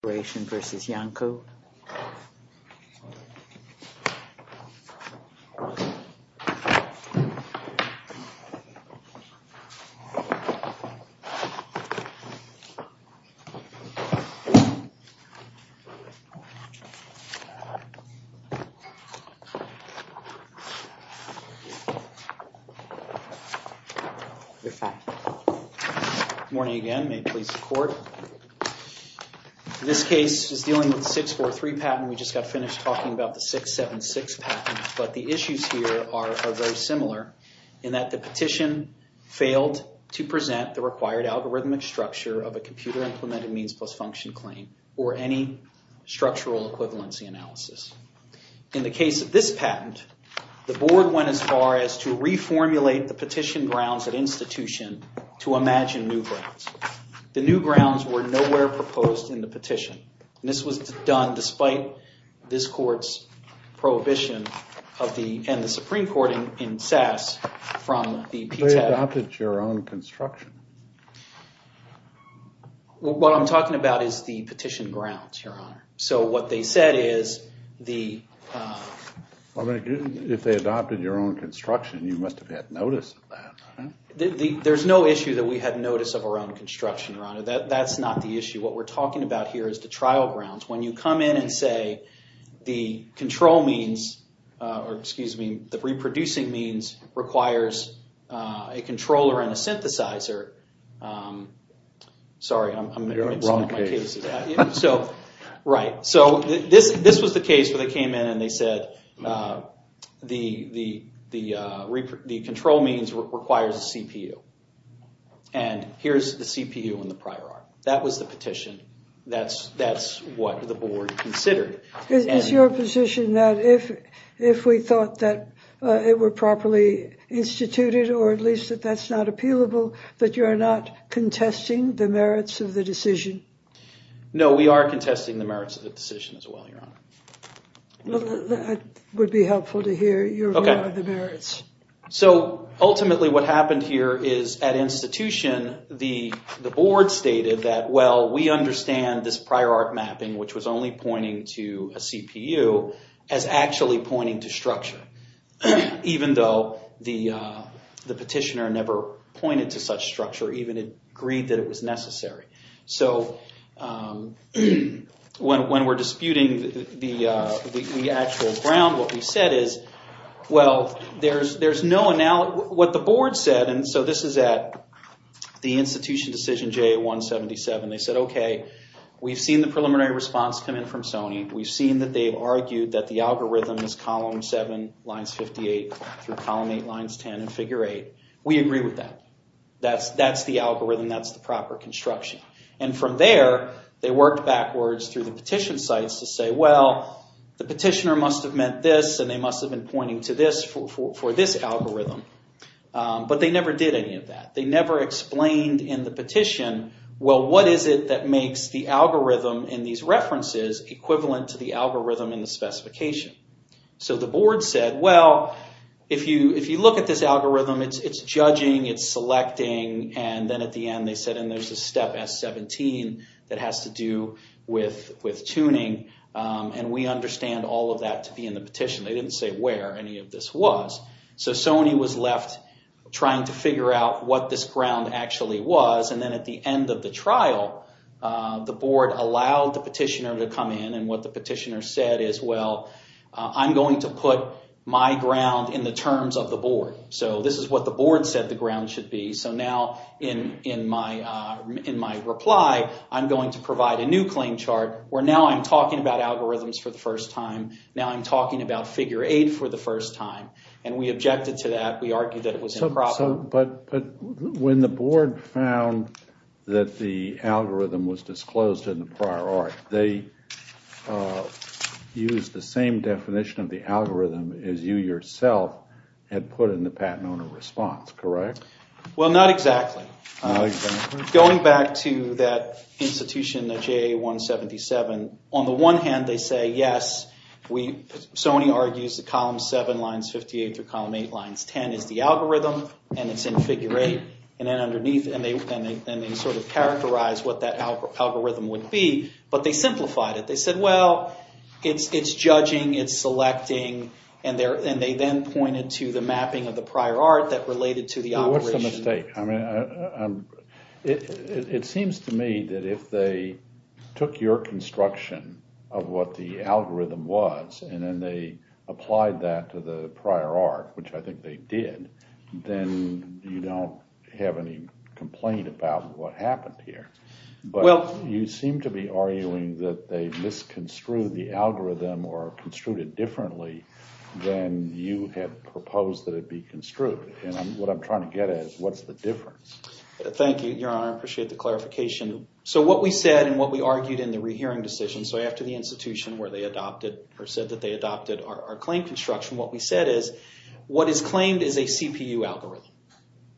Corporation v. Iancu. Good morning again. May it please the court. This case is dealing with the 643 patent. We just got finished talking about the 676 patent, but the issues here are very similar in that the petition failed to present the required algorithmic structure of a computer implemented means-plus-function claim or any structural equivalency analysis. In the case of this patent, the board went as far as to reformulate the petition grounds at institution to imagine new grounds. The new grounds were nowhere proposed in the petition. This was done despite this court's prohibition of the and the Supreme Court in SAS from the PTAC. They adopted your own construction. What I'm talking about is the petition grounds, Your Honor. So what they said is If they adopted your own construction, you must have had notice of that. There's no issue that we had notice of around construction, Your Honor. That's not the issue. What we're talking about here is the trial grounds. When you come in and say the control means, or excuse me, the reproducing means requires a controller and a synthesizer. Sorry, I'm missing my case. You're in the wrong case. Right, so this was the case where they came in and they said the control means requires a CPU. And here's the CPU in the prior art. That was the petition. That's what the board considered. Is your position that if we thought that it were properly instituted, or at least that that's not No, we are contesting the merits of the decision as well, Your Honor. That would be helpful to hear, your view on the merits. So ultimately what happened here is at institution, the board stated that, well, we understand this prior art mapping, which was only pointing to a CPU, as actually pointing to structure. Even though the petitioner never pointed to such structure, even agreed that it is necessary. So when we're disputing the actual ground, what we said is, well, there's no analogy. What the board said, and so this is at the institution decision JA-177, they said, okay, we've seen the preliminary response come in from Sony. We've seen that they've argued that the algorithm is column 7, lines 58, through column 8, lines 10, and figure 8. We agree with that. That's the algorithm. That's the proper construction. And from there, they worked backwards through the petition sites to say, well, the petitioner must have meant this, and they must have been pointing to this for this algorithm. But they never did any of that. They never explained in the petition, well, what is it that makes the algorithm in these references equivalent to the algorithm in the specification? So the board said, well, if you look at this algorithm, it's judging, it's selecting, and then at the end, they said, and there's a step S-17 that has to do with tuning, and we understand all of that to be in the petition. They didn't say where any of this was. So Sony was left trying to figure out what this ground actually was, and then at the end of the trial, the board allowed the petitioner to come in, and what the petitioner said is, well, I'm going to put my ground in the terms of the board. So this is what the board said the ground should be. So now in my reply, I'm going to provide a new claim chart where now I'm talking about algorithms for the first time. Now I'm talking about figure eight for the first time, and we objected to that. We argued that it was improper. But when the board found that the algorithm was disclosed in the prior art, they used the same definition of the patent owner response, correct? Well, not exactly. Going back to that institution, the JA-177, on the one hand, they say, yes, Sony argues that column 7, lines 58 through column 8, lines 10 is the algorithm, and it's in figure 8, and then underneath, and they sort of characterized what that algorithm would be, but they simplified it. They said, well, it's judging, it's selecting, and they then pointed to the mapping of the prior art that related to the operation. What's the mistake? I mean, it seems to me that if they took your construction of what the algorithm was, and then they applied that to the prior art, which I think they did, then you don't have any complaint about what happened here. You seem to be arguing that they misconstrued the algorithm or then you had proposed that it be construed, and what I'm trying to get at is what's the difference? Thank you, Your Honor. I appreciate the clarification. So what we said and what we argued in the rehearing decision, so after the institution where they adopted or said that they adopted our claim construction, what we said is what is claimed is a CPU algorithm.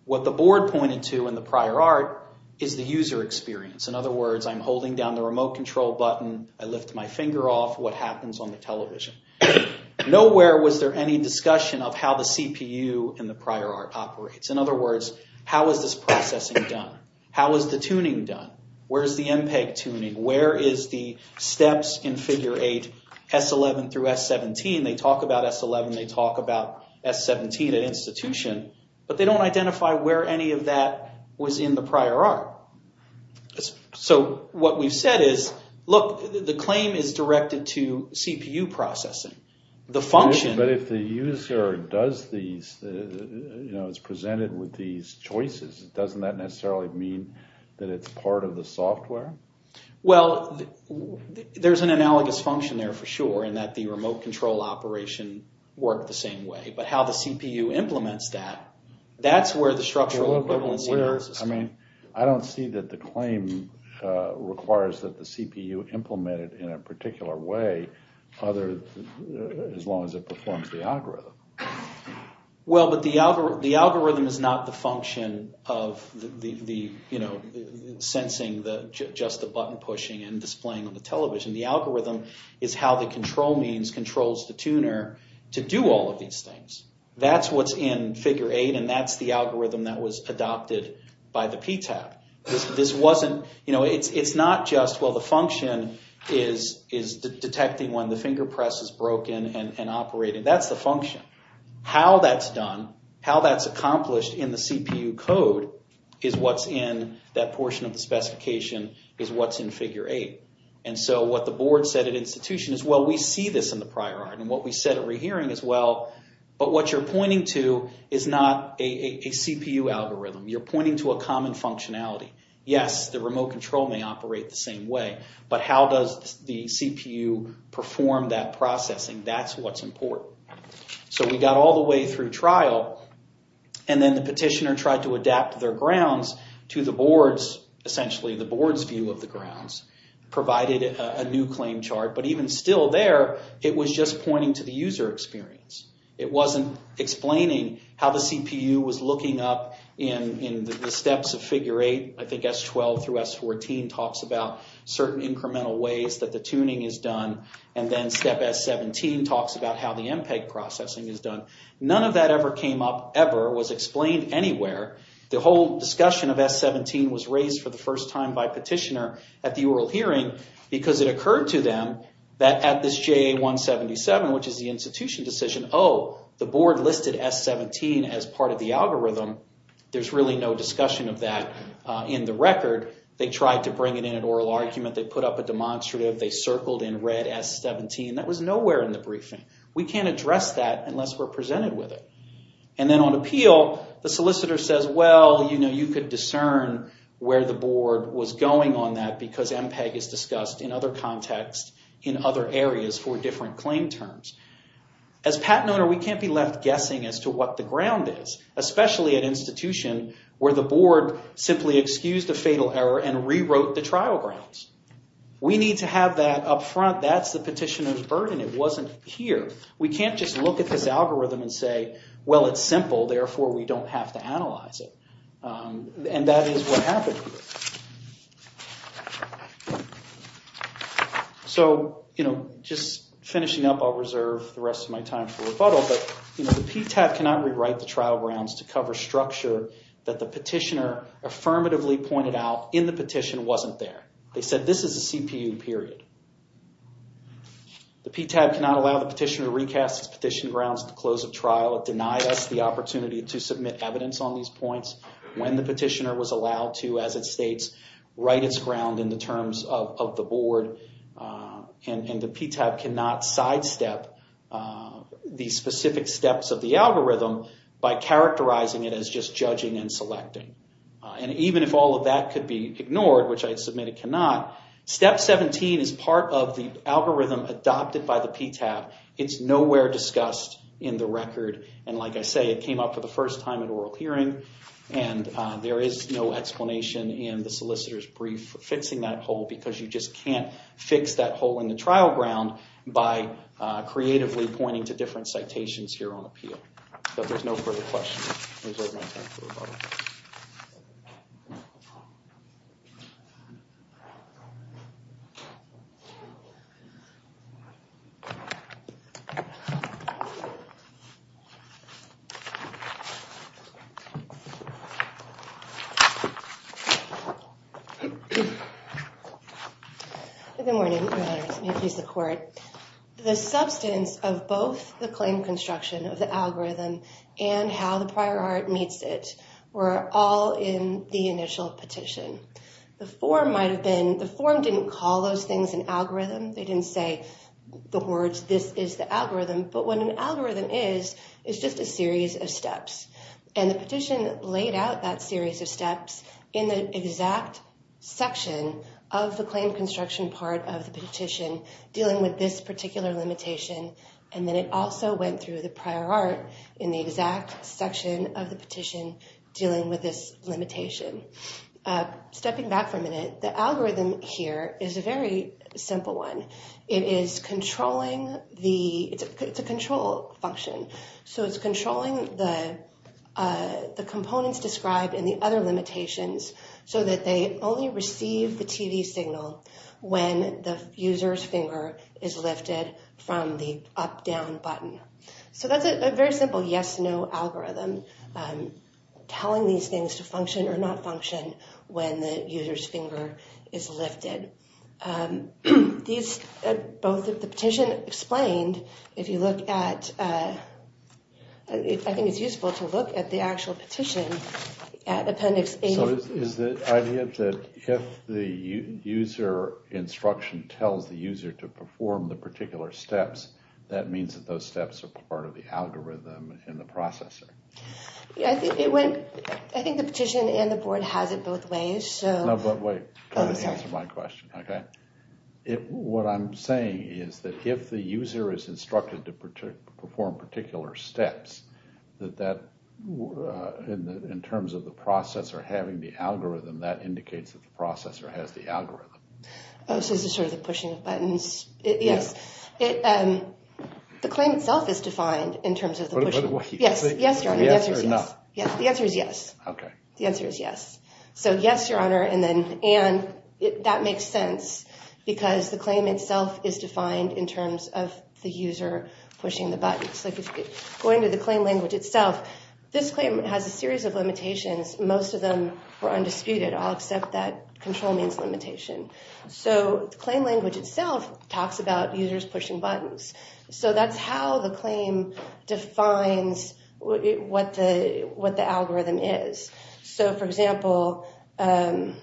What the board pointed to in the prior art is the user experience. In other words, I'm holding down the remote control button, I lift my finger off, what happens on the remote control? Nowhere was there any discussion of how the CPU in the prior art operates. In other words, how is this processing done? How is the tuning done? Where's the MPEG tuning? Where is the steps in figure 8, S11 through S17? They talk about S11, they talk about S17 at institution, but they don't identify where any of that was in the prior art. So what we've said is, look, the claim is But if the user does these, you know, it's presented with these choices, doesn't that necessarily mean that it's part of the software? Well, there's an analogous function there for sure in that the remote control operation worked the same way, but how the CPU implements that, that's where the structural equivalency occurs. I mean, I don't see that the claim requires that the CPU implemented in a performs the algorithm. Well, but the algorithm is not the function of the, you know, sensing just the button pushing and displaying on the television. The algorithm is how the control means controls the tuner to do all of these things. That's what's in figure 8 and that's the algorithm that was adopted by the PTAP. This wasn't, you know, it's not just, well, the function is detecting when the finger press is broken and operating. That's the function. How that's done, how that's accomplished in the CPU code is what's in that portion of the specification is what's in figure 8. And so what the board said at institution is, well, we see this in the prior art and what we said at rehearing as well, but what you're pointing to is not a CPU algorithm. You're pointing to a common functionality. Yes, the remote control may operate the same way, but how does the perform that processing? That's what's important. So we got all the way through trial and then the petitioner tried to adapt their grounds to the board's, essentially, the board's view of the grounds, provided a new claim chart. But even still there, it was just pointing to the user experience. It wasn't explaining how the CPU was looking up in the steps of figure 8. I think S12 through S14 talks about certain incremental ways that the tuning is done, and then step S17 talks about how the MPEG processing is done. None of that ever came up, ever, was explained anywhere. The whole discussion of S17 was raised for the first time by petitioner at the oral hearing because it occurred to them that at this JA-177, which is the institution decision, oh, the board listed S17 as part of the algorithm. There's really no discussion of that in the record. They tried to bring it in an oral argument. They put up a demonstrative. They circled in red S17. That was nowhere in the briefing. We can't address that unless we're presented with it. And then on appeal, the solicitor says, well, you know, you could discern where the board was going on that because MPEG is discussed in other contexts, in other areas, for different claim terms. As patent owner, we can't be left guessing as to what the ground is, especially at institution where the board simply excused a fatal error and rewrote the trial grounds. We have that up front. That's the petitioner's burden. It wasn't here. We can't just look at this algorithm and say, well, it's simple, therefore, we don't have to analyze it. And that is what happened. So, you know, just finishing up, I'll reserve the rest of my time for rebuttal, but, you know, the PTAT cannot rewrite the trial grounds to cover structure that the petitioner affirmatively pointed out in the petition wasn't there. They said this is CPU, period. The PTAT cannot allow the petitioner to recast his petition grounds at the close of trial. It denied us the opportunity to submit evidence on these points when the petitioner was allowed to, as it states, write its ground in the terms of the board. And the PTAT cannot sidestep these specific steps of the algorithm by characterizing it as just judging and selecting. And even if all of that could be ignored, which I submit it cannot, step 17 is part of the algorithm adopted by the PTAT. It's nowhere discussed in the record, and like I say, it came up for the first time at oral hearing, and there is no explanation in the solicitor's brief for fixing that hole because you just can't fix that hole in the trial ground by creatively pointing to different pieces of court. The substance of both the claim construction of the algorithm and how the prior art meets it were all in the initial petition. The form might have been, the form didn't call those things an algorithm. They didn't say the words this is the algorithm, but what an algorithm is, is just a series of steps. And the petition laid out that series of steps in the exact section of the claim construction part of the petition dealing with this particular limitation, and then it also went through the prior art in the exact section of the petition dealing with this limitation. Stepping back for a minute, the algorithm here is a very simple one. It is controlling the, it's a control function, so it's controlling the components described in the other limitations so that they only receive the TV signal when the user's finger is lifted from the up-down button. So that's a very simple yes-no algorithm telling these things to function or not function when the user's finger is lifted. These, both of the petition explained, if you look at, I think it's useful to look at the actual if the user instruction tells the user to perform the particular steps, that means that those steps are part of the algorithm in the processor. I think it went, I think the petition and the board has it both ways. No, but wait, try to answer my question, okay? What I'm saying is that if the user is instructed to perform particular steps, that that, in terms of the processor having the algorithm. Oh, so this is sort of the pushing of buttons. Yes, it, the claim itself is defined in terms of the, yes, yes, the answer is yes. Okay. The answer is yes. So yes, Your Honor, and then, and that makes sense because the claim itself is defined in terms of the user pushing the buttons. Like, going to the claim language itself, this claim has a series of limitations. Most of them were control means limitation. So the claim language itself talks about users pushing buttons. So that's how the claim defines what the, what the algorithm is. So, for example, the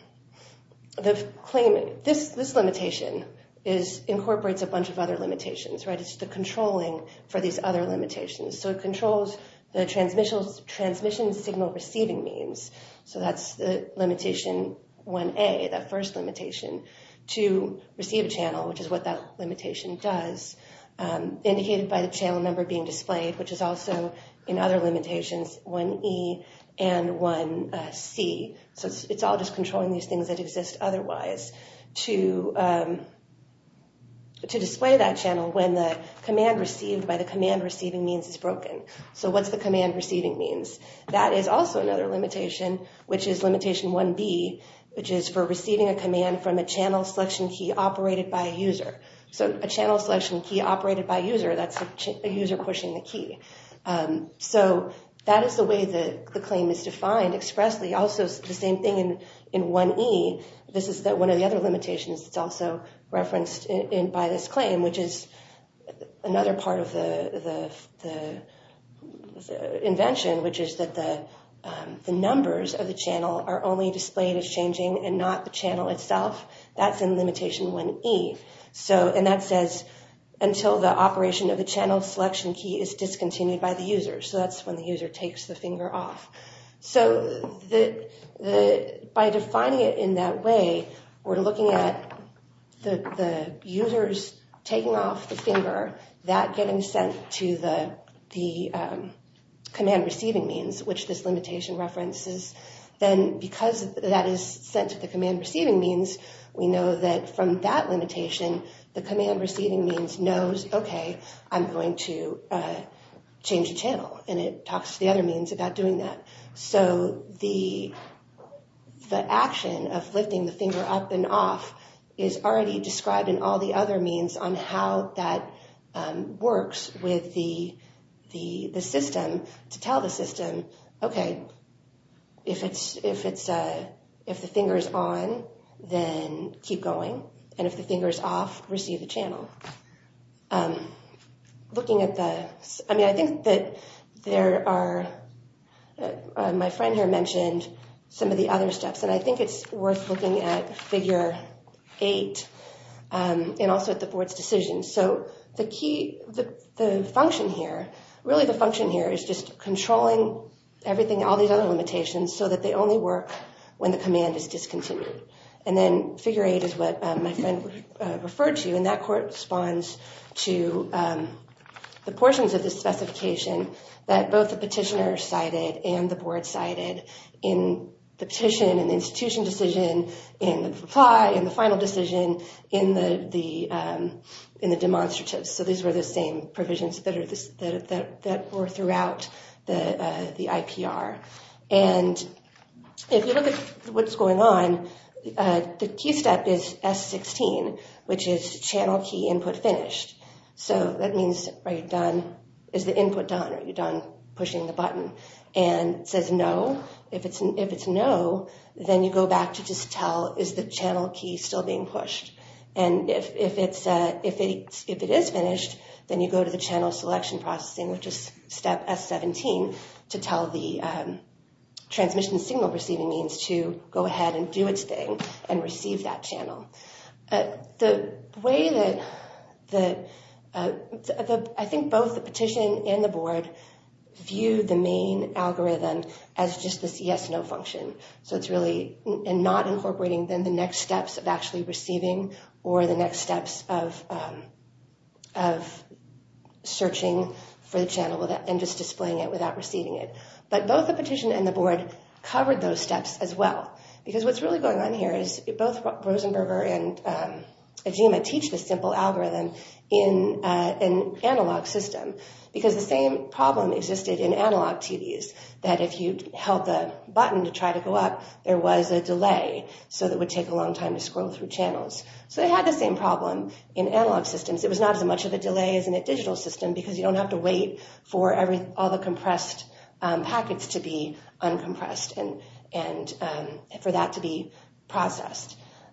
claim, this, this limitation is, incorporates a bunch of other limitations, right? It's the controlling for these other limitations. So it controls the transmission, transmission signal receiving means. So that's the limitation 1A, that first limitation, to receive a channel, which is what that limitation does, indicated by the channel number being displayed, which is also, in other limitations, 1E and 1C. So it's all just controlling these things that exist otherwise, to, to display that channel when the command received by the command receiving means is broken. So what's the command receiving means? That is also another limitation, which is limitation 1B, which is for receiving a command from a channel selection key operated by a user. So a channel selection key operated by user, that's a user pushing the key. So that is the way the claim is defined expressly. Also, the same thing in, in 1E, this is that one of the other limitations that's also referenced in, by this claim, which is another part of the, the, the invention, which is that the, the numbers of the channel are only displayed as changing and not the channel itself, that's in limitation 1E. So, and that says, until the operation of the channel selection key is discontinued by the user. So that's when the user takes the finger off. So the, the, by defining it in that way, we're looking at the, the users taking off the finger, that getting sent to the, the command receiving means, which this limitation references. Then because that is sent to the command receiving means, we know that from that limitation, the command receiving means knows, okay, I'm going to change the channel. And it talks to the other means about doing that. So the, the action of lifting the finger up and off is already described in all the other means on how that works with the, the, the system to tell the system, okay, if it's, if it's if the finger is on, then keep going. And if the finger is off, receive the channel. Looking at the, I mean, I think that there are, my friend here mentioned some of the other steps, and I think it's worth looking at figure eight, and also at the board's decision. So the key, the, the function here, really the function here is just controlling everything, all these other limitations, so that they only work when the command is discontinued. And then figure eight is what my friend referred to, and that corresponds to the portions of the specification that both the petitioner cited and the board cited in the petition, in the institution decision, in the reply, in the final decision, in the, the, in the demonstratives. So these were the same provisions that are, that, that were throughout the, the IPR. And if you look at what's going on, the key step is S16, which is channel key input finished. So that means, are you done, is the input done, are you done pushing the button? And if it says no, if it's, if it's no, then you go back to just tell, is the channel key still being pushed? And if, if it's, if it is finished, then you go to the channel selection processing, which is step S17, to tell the transmission signal receiving means to go ahead and do its thing, and receive that channel. The way that the, I think both the petition and the board view the main algorithm as just this yes-no function. So it's really, and not incorporating then the next steps of actually receiving, or the next steps of, of searching for the channel without, and just displaying it without receiving it. But both the petition and the board covered those steps as well, because what's really going on here is both Rosenberger and Ajima teach the simple algorithm in an analog system. Because the same problem existed in analog TVs, that if you held the button to try to go up, there was a delay. So that would take a long time to scroll through channels. So they had the same problem in analog systems. It was not as much of a delay as in a digital system, because you don't have to wait for every, all the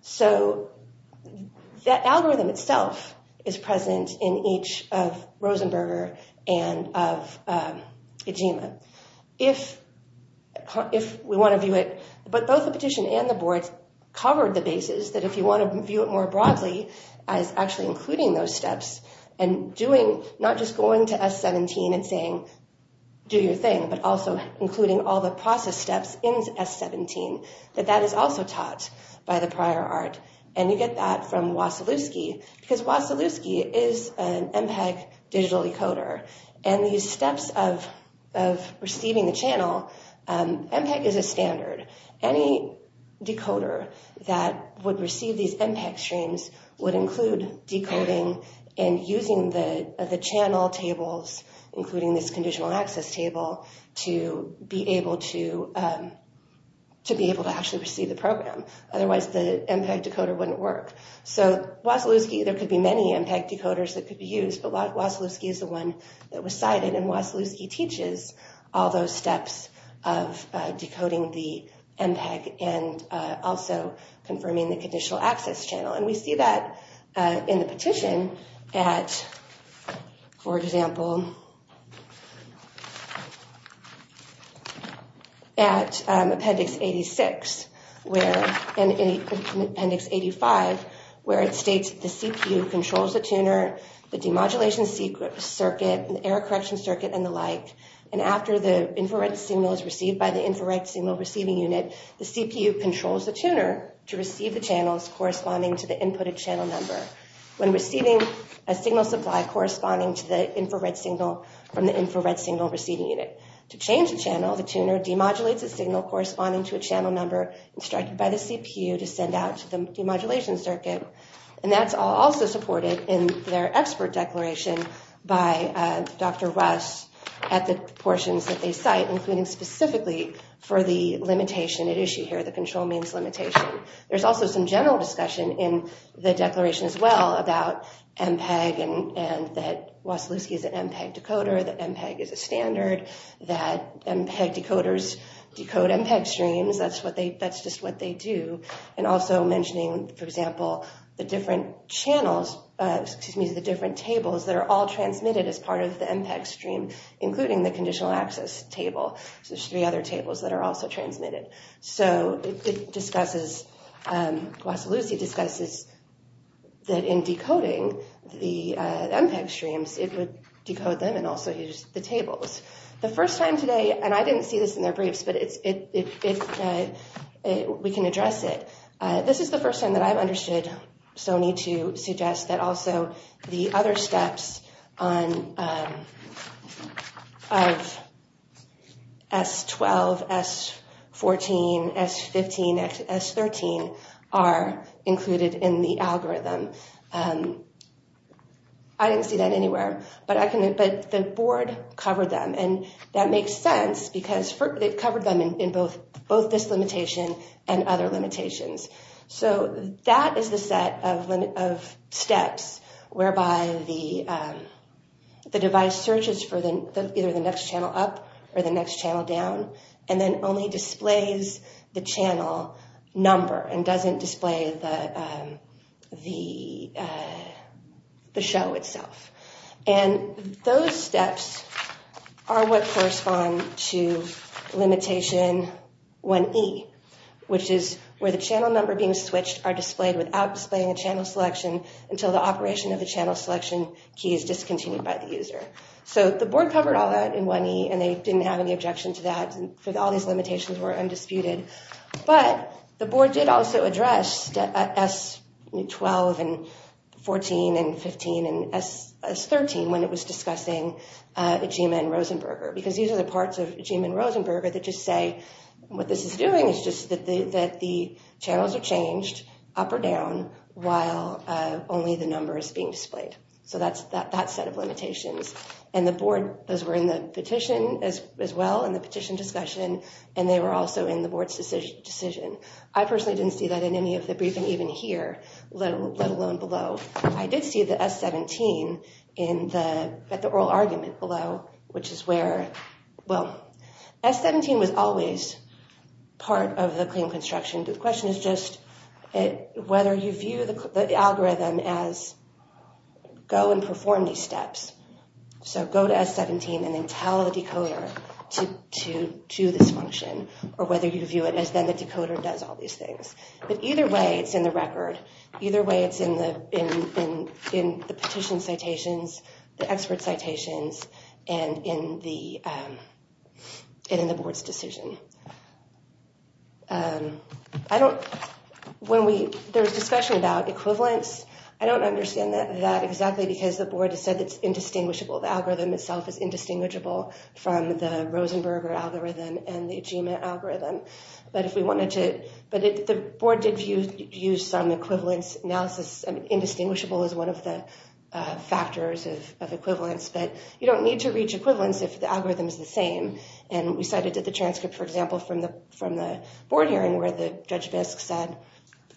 So that algorithm itself is present in each of Rosenberger and of Ajima. If, if we want to view it, but both the petition and the board covered the basis that if you want to view it more broadly, as actually including those steps, and doing not just going to S17 and saying, do your thing, but also including all the prior art. And you get that from Wasilewski, because Wasilewski is an MPEG digital decoder. And these steps of, of receiving the channel, MPEG is a standard. Any decoder that would receive these MPEG streams would include decoding and using the, the channel tables, including this conditional access table to be able to, to be able to actually receive the program. Otherwise, the MPEG decoder wouldn't work. So Wasilewski, there could be many MPEG decoders that could be used, but Wasilewski is the one that was cited. And Wasilewski teaches all those steps of decoding the MPEG and also confirming the conditional access channel. And we see that in the petition at, for example, at Appendix 86, where, in Appendix 85, where it states, the CPU controls the tuner, the demodulation circuit, the error correction circuit, and the like. And after the infrared signal is received by the infrared signal receiving unit, the CPU controls the tuner to receive the channels corresponding to the inputted channel number. When receiving a signal supply corresponding to the infrared signal from the infrared signal receiving unit. To change the channel, the tuner demodulates a signal corresponding to a channel number instructed by the CPU to send out to the demodulation circuit. And that's also supported in their expert declaration by Dr. Russ at the portions that they cite, including specifically for the limitation at issue here, the control means limitation. There's also some general discussion in the declaration as well about MPEG and that Wasilewski is an MPEG decoder, that MPEG is a standard, that MPEG decoders decode MPEG streams. That's what they, that's just what they do. And also mentioning, for example, the different channels, excuse me, the different tables that are all transmitted as part of the MPEG stream, including the conditional access table. So there's three other tables that are also transmitted. So it discusses, Wasilewski discusses that in decoding the MPEG streams, it would decode them and also use the tables. The first time today, and I didn't see this in their briefs, but it's, we can address it. This is the first time that I've understood Sony to suggest that also the other steps on, of S12, S14, S15, S13 are included in the algorithm. I didn't see that anywhere, but I can, but the board covered them and that makes sense because they've covered them in both, both this limitation and other limitations. So that is the set of steps whereby the device searches for the, either the next channel up or the next channel down, and then only displays the channel number and doesn't display the show itself. And those steps are what correspond to limitation 1E, which is where the channel number being switched are displayed without displaying a channel selection until the operation of the channel selection key is discontinued by the user. So the board covered all that in 1E and they didn't have any objection to that for all these limitations were undisputed, but the board did also address S12 and 14 and 15 and S13 when it was discussing AGIMA and Rosenberger, because these are the parts of AGIMA and Rosenberger that just say what this is doing is just that the that the channels are changed up or down while only the number is being displayed. So that's that set of limitations, and the board, those were in the petition as well in the petition discussion, and they were also in the board's decision. I personally didn't see that in any of the briefing even here, let alone below. I did see the S17 in the, at the oral argument below, which is where, well, S17 was always part of the claim construction. The question is just whether you view the algorithm as go and perform these steps. So go to S17 and then tell the decoder to do this function, or whether you view it as then the decoder does all these things. But either way it's in the record, either way it's in the in the petition citations, the expert citations, and in the in the board's decision. I don't, when we, there was discussion about equivalence, I don't understand that exactly because the board has said it's indistinguishable. The algorithm itself is indistinguishable from the Rosenberger algorithm and the Ajima algorithm. But if we wanted to, but the board did use some equivalence analysis, indistinguishable is one of the factors of equivalence, but you don't need to reach equivalence if the algorithm is the same. And we cited that the transcript, for example, from the from the board hearing where the Judge Bisk said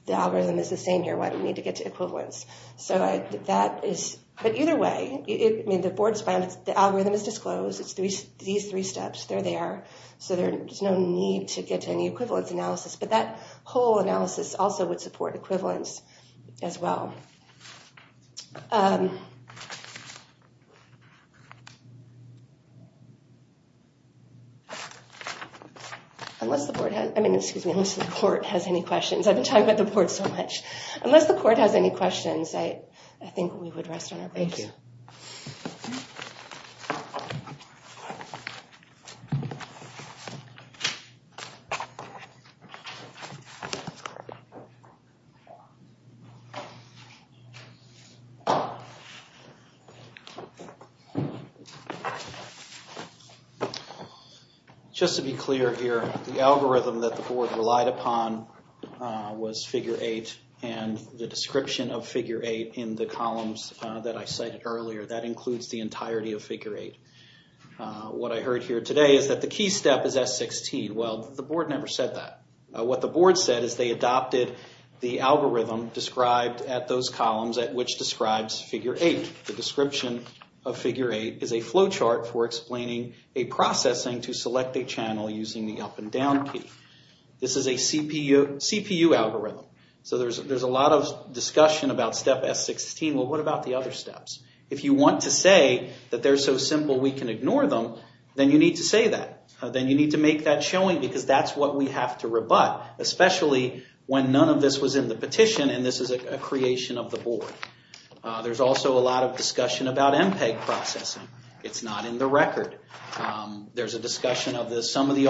the algorithm is the same here, why do we need to get to equivalence? So that is, but either way, the board's found the algorithm is disclosed, it's these three steps, they're there, so there's no need to get to any equivalence analysis. But that whole analysis also would support equivalence as well. Unless the board has, I mean, excuse me, unless the court has any questions. I've talked about the board so much. Unless the court has any questions, I think we would rest on our and the description of figure 8 in the columns that I cited earlier, that includes the entirety of figure 8. What I heard here today is that the key step is S16. Well, the board never said that. What the board said is they adopted the algorithm described at those columns at which describes figure 8. The description of figure 8 is a flowchart for explaining a processing to select a algorithm. So there's a lot of discussion about step S16. Well, what about the other steps? If you want to say that they're so simple we can ignore them, then you need to say that. Then you need to make that showing because that's what we have to rebut, especially when none of this was in the petition and this is a creation of the board. There's also a lot of discussion about MPEG processing. It's not in the record. There's a discussion of this, some of the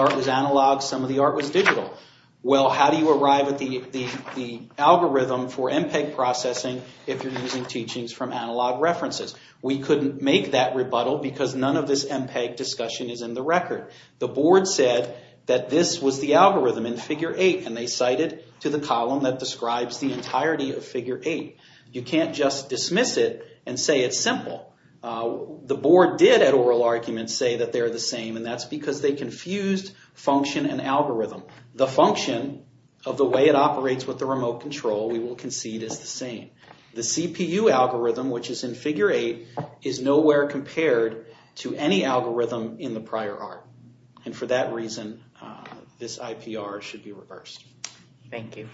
algorithm for MPEG processing if you're using teachings from analog references. We couldn't make that rebuttal because none of this MPEG discussion is in the record. The board said that this was the algorithm in figure 8 and they cited to the column that describes the entirety of figure 8. You can't just dismiss it and say it's simple. The board did at oral arguments say that they're the same and that's because they confused function and algorithm. The function of the way it operates with the remote control we will concede is the same. The CPU algorithm, which is in figure 8, is nowhere compared to any algorithm in the prior art and for that reason this IPR should be reversed. Thank you.